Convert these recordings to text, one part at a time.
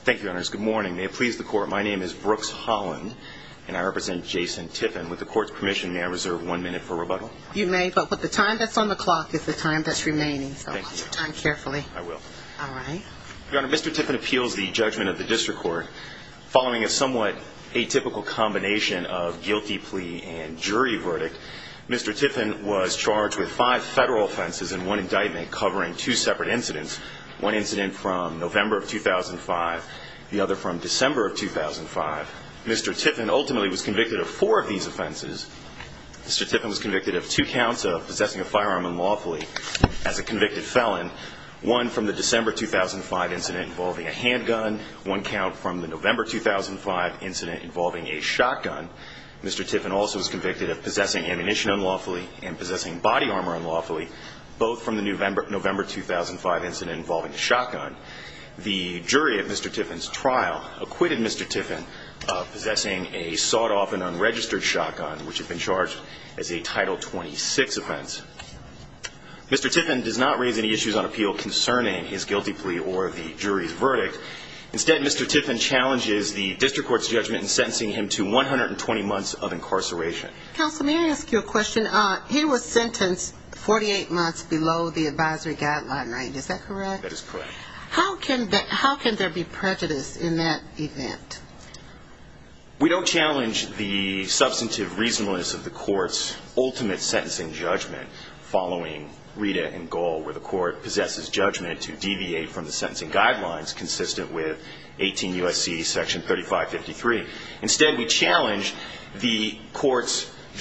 Thank you, your honors. Good morning. May it please the court, my name is Brooks Holland and I represent Jason Tiffin. With the court's permission, may I reserve one minute for rebuttal? You may, but the time that's on the clock is the time that's remaining, so watch your time carefully. I will. All right. Your honor, Mr. Tiffin appeals the judgment of the district court following a somewhat atypical combination of guilty plea and jury verdict. Mr. Tiffin was charged with five federal offenses and one indictment covering two separate incidents, one incident from November of 2005, the other from December of 2005. Mr. Tiffin ultimately was convicted of four of these offenses. Mr. Tiffin was convicted of two counts of possessing a firearm unlawfully as a convicted felon, one from the December 2005 incident involving a handgun, one count from the November 2005 incident involving a shotgun. Mr. Tiffin also was convicted of possessing ammunition unlawfully and possessing body armor unlawfully, both from the November 2005 incident involving a shotgun. The jury at Mr. Tiffin's trial acquitted Mr. Tiffin of possessing a sawed-off and unregistered shotgun, which had been charged as a Title 26 offense. Mr. Tiffin does not raise any issues on appeal concerning his guilty plea or the jury's verdict. Instead, Mr. Tiffin challenges the district court's judgment in sentencing him to 120 months of incarceration. Counsel, may I ask you a question? He was sentenced 48 months below the advisory guideline, right? Is that correct? That is correct. How can there be prejudice in that event? We don't challenge the substantive reasonableness of the court's ultimate sentencing judgment following Rita and Gohl, where the court possesses judgment to deviate from the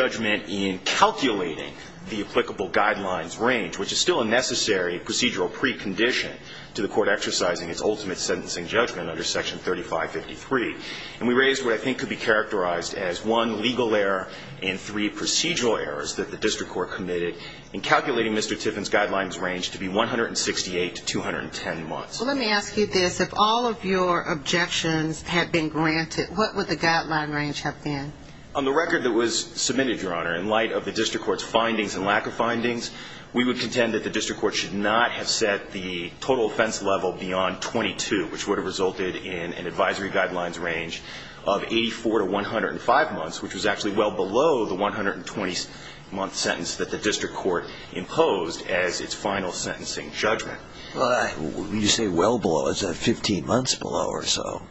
judgment in calculating the applicable guidelines range, which is still a necessary procedural precondition to the court exercising its ultimate sentencing judgment under Section 3553. And we raised what I think could be characterized as one legal error and three procedural errors that the district court committed in calculating Mr. Tiffin's guidelines range to be 168 to 210 months. Well, let me ask you this. If all of your objections had been granted, what would the what was submitted, Your Honor, in light of the district court's findings and lack of findings, we would contend that the district court should not have set the total offense level beyond 22, which would have resulted in an advisory guidelines range of 84 to 105 months, which was actually well below the 120-month sentence that the district court imposed as its final sentencing judgment. When you say well below, is that 15 months below or so?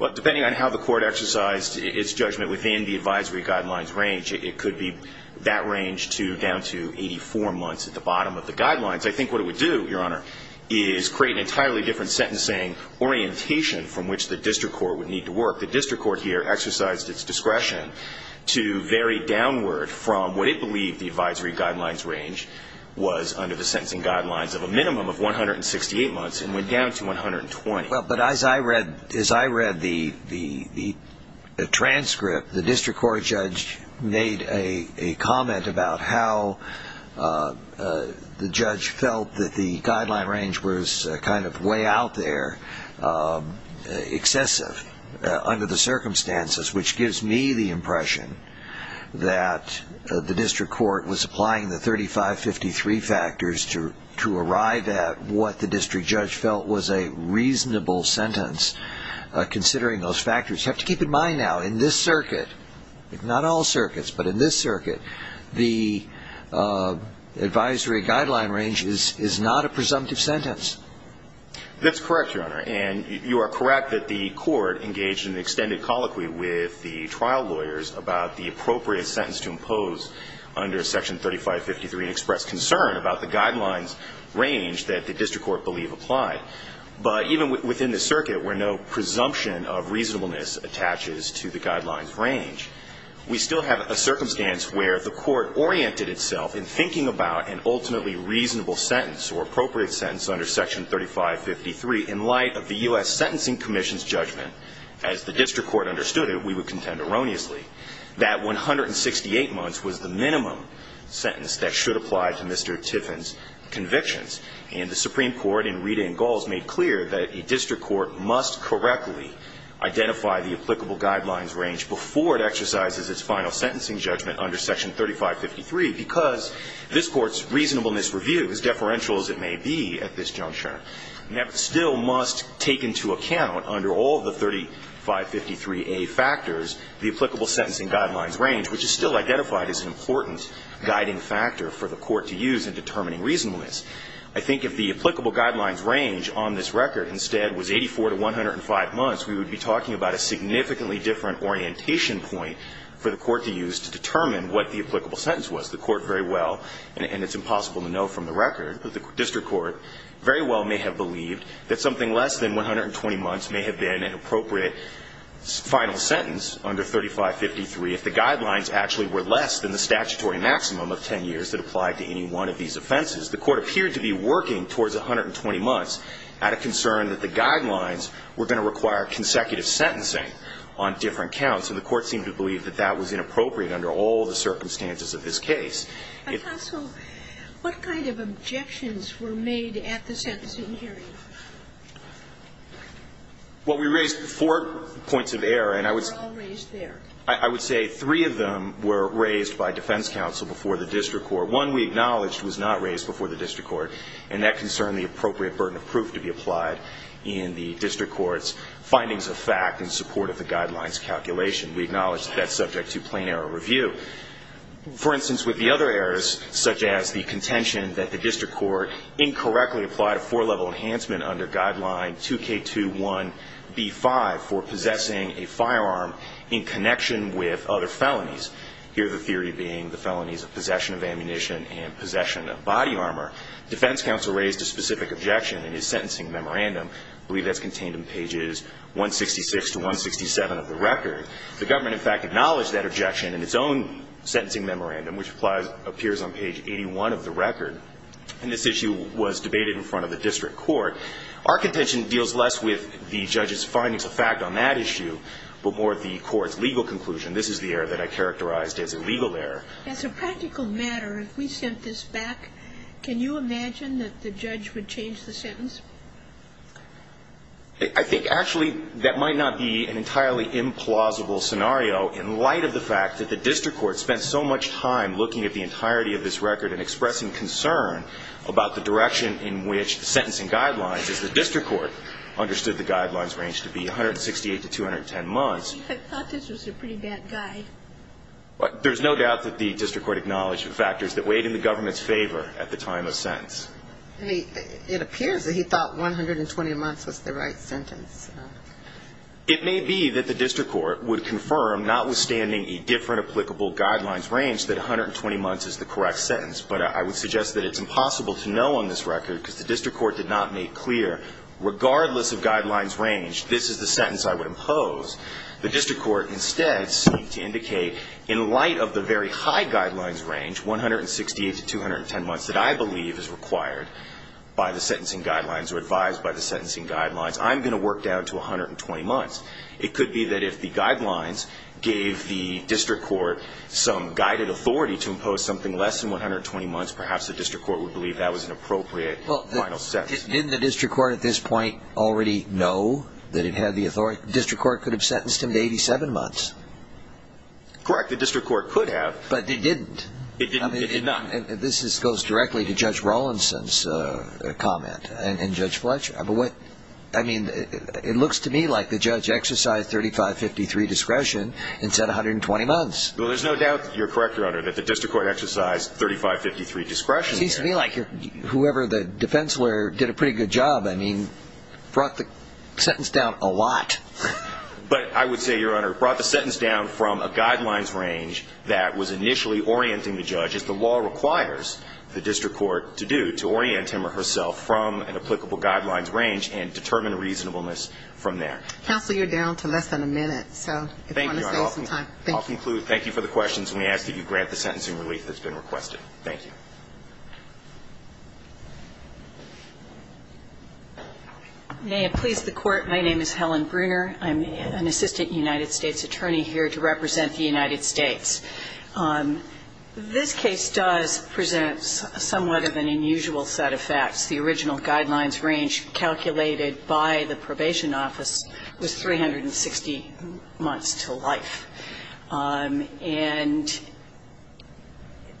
Well, depending on how the court exercised its judgment within the advisory guidelines range, it could be that range to down to 84 months at the bottom of the guidelines. I think what it would do, Your Honor, is create an entirely different sentencing orientation from which the district court would need to work. The district court here exercised its discretion to vary downward from what it believed the advisory guidelines range was under the sentencing guidelines of a minimum of 168 months and went down to 120. But as I read the transcript, the district court judge made a comment about how the judge felt that the guideline range was kind of way out there, excessive under the circumstances, which gives me the impression that the district court was applying the 3553 factors to arrive at what the district judge felt was a reasonable sentence, considering those factors. You have to keep in mind now, in this circuit, not all circuits, but in this circuit, the advisory guideline range is not a presumptive sentence. That's correct, Your Honor, and you are correct that the court engaged in extended colloquy with the trial lawyers about the appropriate sentence to impose under Section 3553 and expressed concern about the guidelines range that the district court believed applied. But even within this circuit, where no presumption of reasonableness attaches to the guidelines range, we still have a circumstance where the court oriented itself in thinking about an ultimately reasonable sentence or appropriate sentence under Section 3553 in light of the U.S. We would contend erroneously that 168 months was the minimum sentence that should apply to Mr. Tiffin's convictions, and the Supreme Court in Reed and Galls made clear that a district court must correctly identify the applicable guidelines range before it exercises its final sentencing judgment under Section 3553, because this Court's reasonableness review, as deferential as it may be at this juncture, still must take into account under all of the 3553A factors the applicable sentencing guidelines range, which is still identified as an important guiding factor for the court to use in determining reasonableness. I think if the applicable guidelines range on this record instead was 84 to 105 months, we would be talking about a significantly different orientation point for the court to use to determine what the applicable sentence was. The court very well, and it's impossible to know from the record, but the district court very well may have believed that something less than 120 months may have been an appropriate final sentence under 3553 if the guidelines actually were less than the statutory maximum of 10 years that applied to any one of these offenses. The court appeared to be working towards 120 months out of concern that the guidelines were going to require consecutive sentencing on different counts, and the court seemed to believe that that was inappropriate under all the circumstances of this case. Sotomayor, I thought so. What kind of objections were made at the sentencing hearing? Well, we raised four points of error, and I would say three of them were raised by defense counsel before the district court. One we acknowledged was not raised before the district court, and that concerned the appropriate burden of proof to be applied in the district court's findings of fact in support of the guidelines calculation. We acknowledged that that's subject to plain error review. For instance, with the other errors, such as the contention that the district court incorrectly applied a four-level enhancement under guideline 2K21B5 for possessing a firearm in connection with other felonies, here the theory being the felonies of possession of ammunition and possession of body armor, defense counsel raised a specific objection in his sentencing memorandum. I believe that's contained in pages 166 to 167 of the record. The government, in fact, acknowledged that objection in its own sentencing memorandum, which appears on page 81 of the record. And this issue was debated in front of the district court. Our contention deals less with the judge's findings of fact on that issue, but more the court's legal conclusion. This is the error that I characterized as a legal error. As a practical matter, if we sent this back, can you imagine that the judge would change the sentence? I think, actually, that might not be an entirely implausible scenario in light of the fact that the district court spent so much time looking at the entirety of this record and expressing concern about the direction in which the sentencing guidelines, as the district court understood the guidelines range to be 168 to 210 months. I thought this was a pretty bad guy. There's no doubt that the district court acknowledged the factors that weighed in the government's favor at the time of sentence. I mean, it appears that he thought 120 months was the right sentence. It may be that the district court would confirm, notwithstanding a different applicable guidelines range, that 120 months is the correct sentence. But I would suggest that it's impossible to know on this record, because the district court did not make clear, regardless of guidelines range, this is the sentence I would impose. The district court instead seemed to indicate, in light of the very high by the sentencing guidelines or advised by the sentencing guidelines, I'm going to work down to 120 months. It could be that if the guidelines gave the district court some guided authority to impose something less than 120 months, perhaps the district court would believe that was an appropriate final sentence. Didn't the district court at this point already know that it had the authority? The district court could have sentenced him to 87 months. Correct. The district court could have. But it didn't. It did not. This goes directly to Judge Rawlinson's comment and Judge Fletcher. It looks to me like the judge exercised 3553 discretion and said 120 months. Well, there's no doubt that you're correct, Your Honor, that the district court exercised 3553 discretion. It seems to me like whoever the defense lawyer did a pretty good job, I mean, brought the sentence down a lot. But I would say, Your Honor, brought the sentence down from a guidelines range that was initially orienting the judge, as the law requires the district court to do, to orient him or herself from an applicable guidelines range and determine a reasonableness from there. Counsel, you're down to less than a minute. So if you want to save some time. Thank you. I'll conclude. Thank you for the questions. We ask that you grant the sentencing relief that's been requested. Thank you. May it please the court. My name is Helen Bruner. I'm an assistant United States attorney here to represent the United States. This case does present somewhat of an unusual set of facts. The original guidelines range calculated by the probation office was 360 months to life. And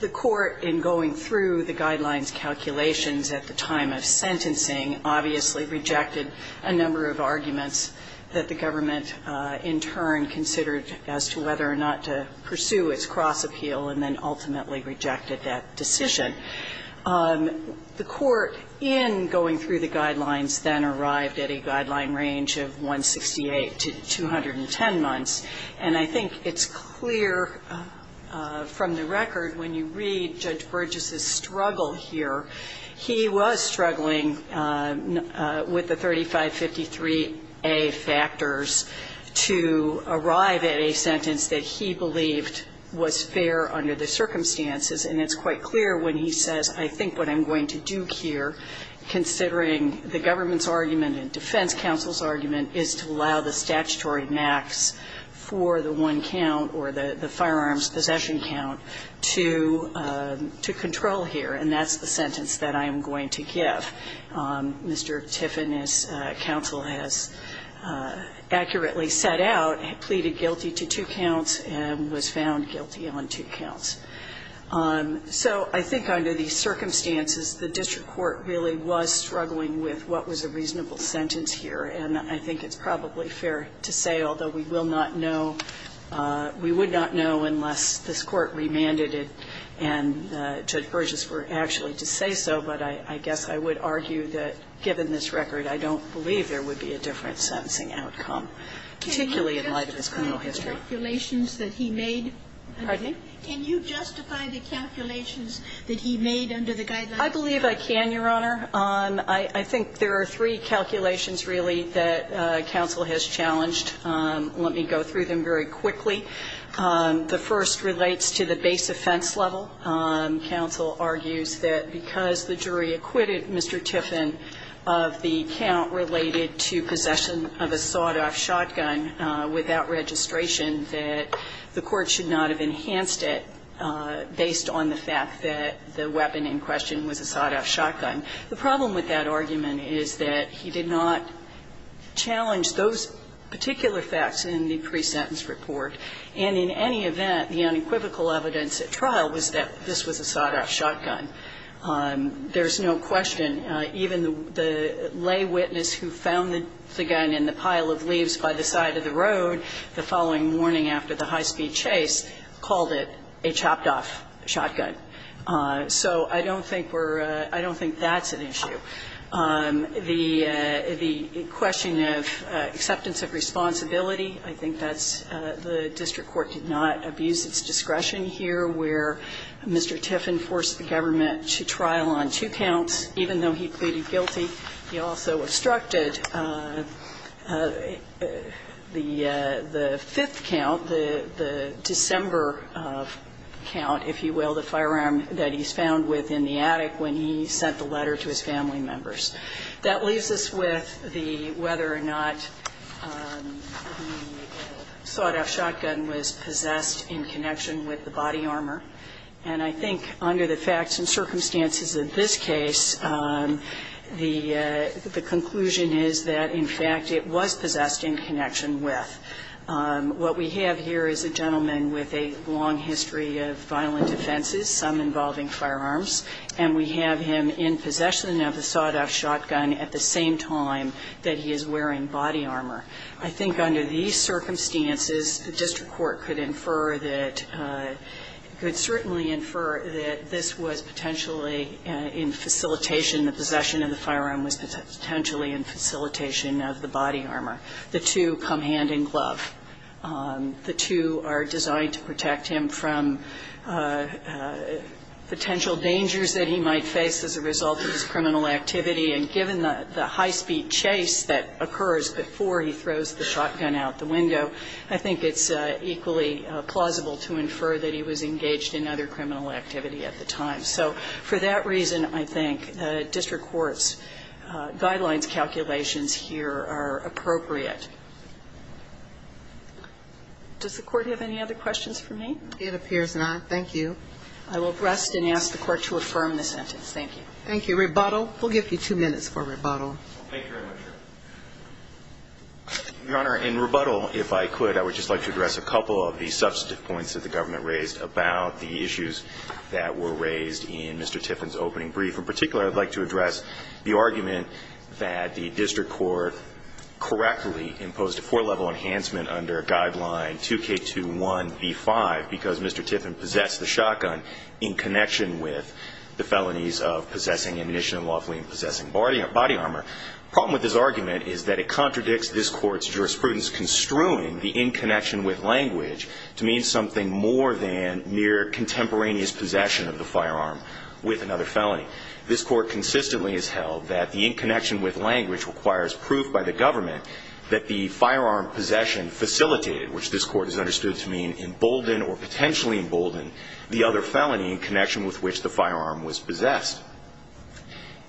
the court, in going through the guidelines calculations at the time of sentencing, obviously rejected a number of arguments that the government in turn considered as to whether or not to pursue its cross-appeal and then ultimately rejected that decision. The court, in going through the guidelines, then arrived at a guideline range of 168 to 210 months. And I think it's clear from the record, when you read Judge Burgess's struggle here, he was struggling with the 3553A factors to arrive at a sentence that he believed was fair under the circumstances. And it's quite clear when he says, I think what I'm going to do here, considering the government's argument and defense counsel's argument, is to allow the statutory max for the one count or the firearms possession count to control here. And that's the sentence that I am going to give. Mr. Tiffin, as counsel has accurately set out, pleaded guilty to two counts and was found guilty on two counts. So I think under these circumstances, the district court really was struggling with what was a reasonable sentence here. And I think it's probably fair to say, although we will not know, we would not know unless this court remanded it and Judge Burgess were actually to say so. But I guess I would argue that, given this record, I don't believe there would be a different sentencing outcome, particularly in light of his criminal history. Can you justify the calculations that he made? Pardon me? Can you justify the calculations that he made under the guidelines? I believe I can, Your Honor. I think there are three calculations, really, that counsel has challenged. Let me go through them very quickly. The first relates to the base offense level. Counsel argues that because the jury acquitted Mr. Tiffin of the count related to possession of a sawed-off shotgun without registration, that the court should not have enhanced it based on the fact that the weapon in question was a sawed-off shotgun. The problem with that argument is that he did not challenge those particular facts in the pre-sentence report, and in any event, the unequivocal evidence at trial was that this was a sawed-off shotgun. There's no question. Even the lay witness who found the gun in the pile of leaves by the side of the road the following morning after the high-speed chase called it a chopped-off shotgun. So I don't think we're – I don't think that's an issue. The question of acceptance of responsibility, I think that's – the district court did not abuse its discretion here where Mr. Tiffin forced the government to trial on two counts, even though he pleaded guilty. He also obstructed the fifth count, the December count, if you will, the firearm that he's found within the attic when he sent the letter to his family members. That leaves us with the whether or not the sawed-off shotgun was possessed in connection with the body armor. And I think under the facts and circumstances of this case, the conclusion is that, in fact, it was possessed in connection with. What we have here is a gentleman with a long history of violent offenses, some in the involving firearms, and we have him in possession of the sawed-off shotgun at the same time that he is wearing body armor. I think under these circumstances, the district court could infer that – could certainly infer that this was potentially in facilitation – the possession of the firearm was potentially in facilitation of the body armor. The two come hand in glove. The two are designed to protect him from potential dangers that he might face as a result of his criminal activity. And given the high-speed chase that occurs before he throws the shotgun out the window, I think it's equally plausible to infer that he was engaged in other criminal activity at the time. So for that reason, I think district court's guidelines calculations here are appropriate. Does the Court have any other questions for me? It appears not. Thank you. I will rest and ask the Court to affirm the sentence. Thank you. Thank you. Rebuttal. We'll give you two minutes for rebuttal. Thank you very much, Your Honor. Your Honor, in rebuttal, if I could, I would just like to address a couple of the substantive points that the government raised about the issues that were raised in Mr. Tiffin's opening brief. And for particular, I'd like to address the argument that the district court correctly imposed a four-level enhancement under Guideline 2K21B5 because Mr. Tiffin possessed the shotgun in connection with the felonies of possessing an initial and lawfully possessing body armor. The problem with this argument is that it contradicts this Court's jurisprudence construing the in connection with language to mean something more than mere contemporaneous possession of the firearm with another felony. This Court consistently has held that the in connection with language requires proof by the government that the firearm possession facilitated, which this Court has understood to mean emboldened or potentially emboldened, the other felony in connection with which the firearm was possessed.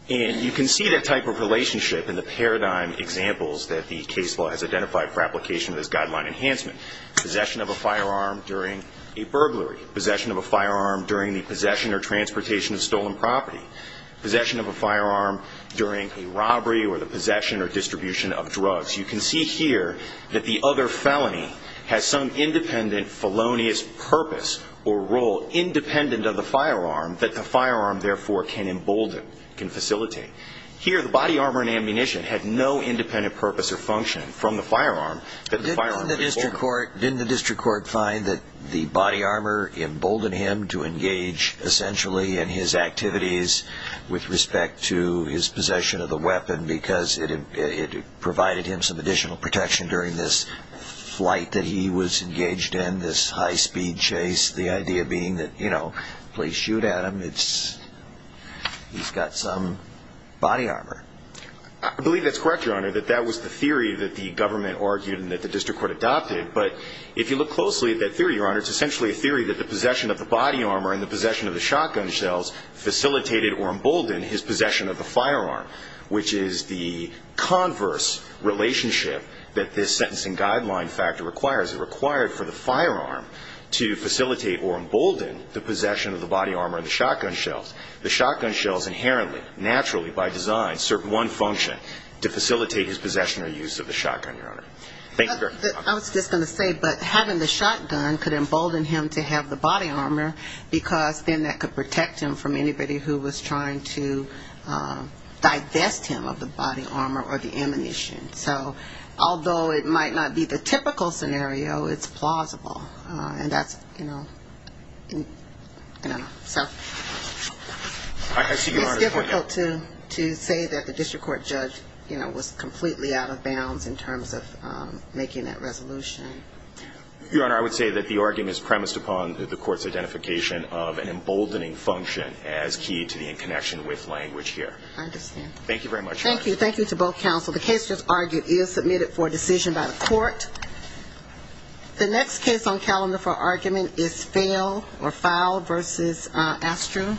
And you can see that type of relationship in the paradigm examples that the case law has identified for application of this guideline enhancement. Possession of a firearm during a burglary. Possession of a firearm during the possession or transportation of stolen property. Possession of a firearm during a robbery or the possession or distribution of drugs. You can see here that the other felony has some independent felonious purpose or role independent of the firearm that the firearm therefore can embolden, can facilitate. Here the body armor and ammunition had no independent purpose or function from the firearm that the firearm was emboldened. Didn't the district court find that the body armor emboldened him to engage essentially in his activities with respect to his possession of the weapon because it provided him some additional protection during this flight that he was engaged in, this high speed chase, the idea being that, you know, please shoot at him, he's got some body armor. I believe that's correct, Your Honor, that that was the theory that the government argued and that the district court adopted. But if you look closely at that theory, Your Honor, it's essentially a theory that the possession of the body armor and the possession of the shotgun shells facilitated or emboldened his possession of the firearm, which is the converse relationship that this sentencing guideline factor requires. It required for the firearm to facilitate or embolden the possession of the body armor and the shotgun shells. I was just going to say, but having the shotgun could embolden him to have the body armor because then that could protect him from anybody who was trying to divest him of the body armor or the ammunition. So although it might not be the typical scenario, it's plausible. And that's, you know, so it's difficult to say that the district court judge, you know, was completely out of bounds in terms of making that resolution. Your Honor, I would say that the argument is premised upon the court's identification of an emboldening function as key to the connection with language here. I understand. Thank you very much. Thank you. Thank you to both counsel. The case just argued is submitted for decision by the court. The next case on calendar for argument is Fowle v. Astrum.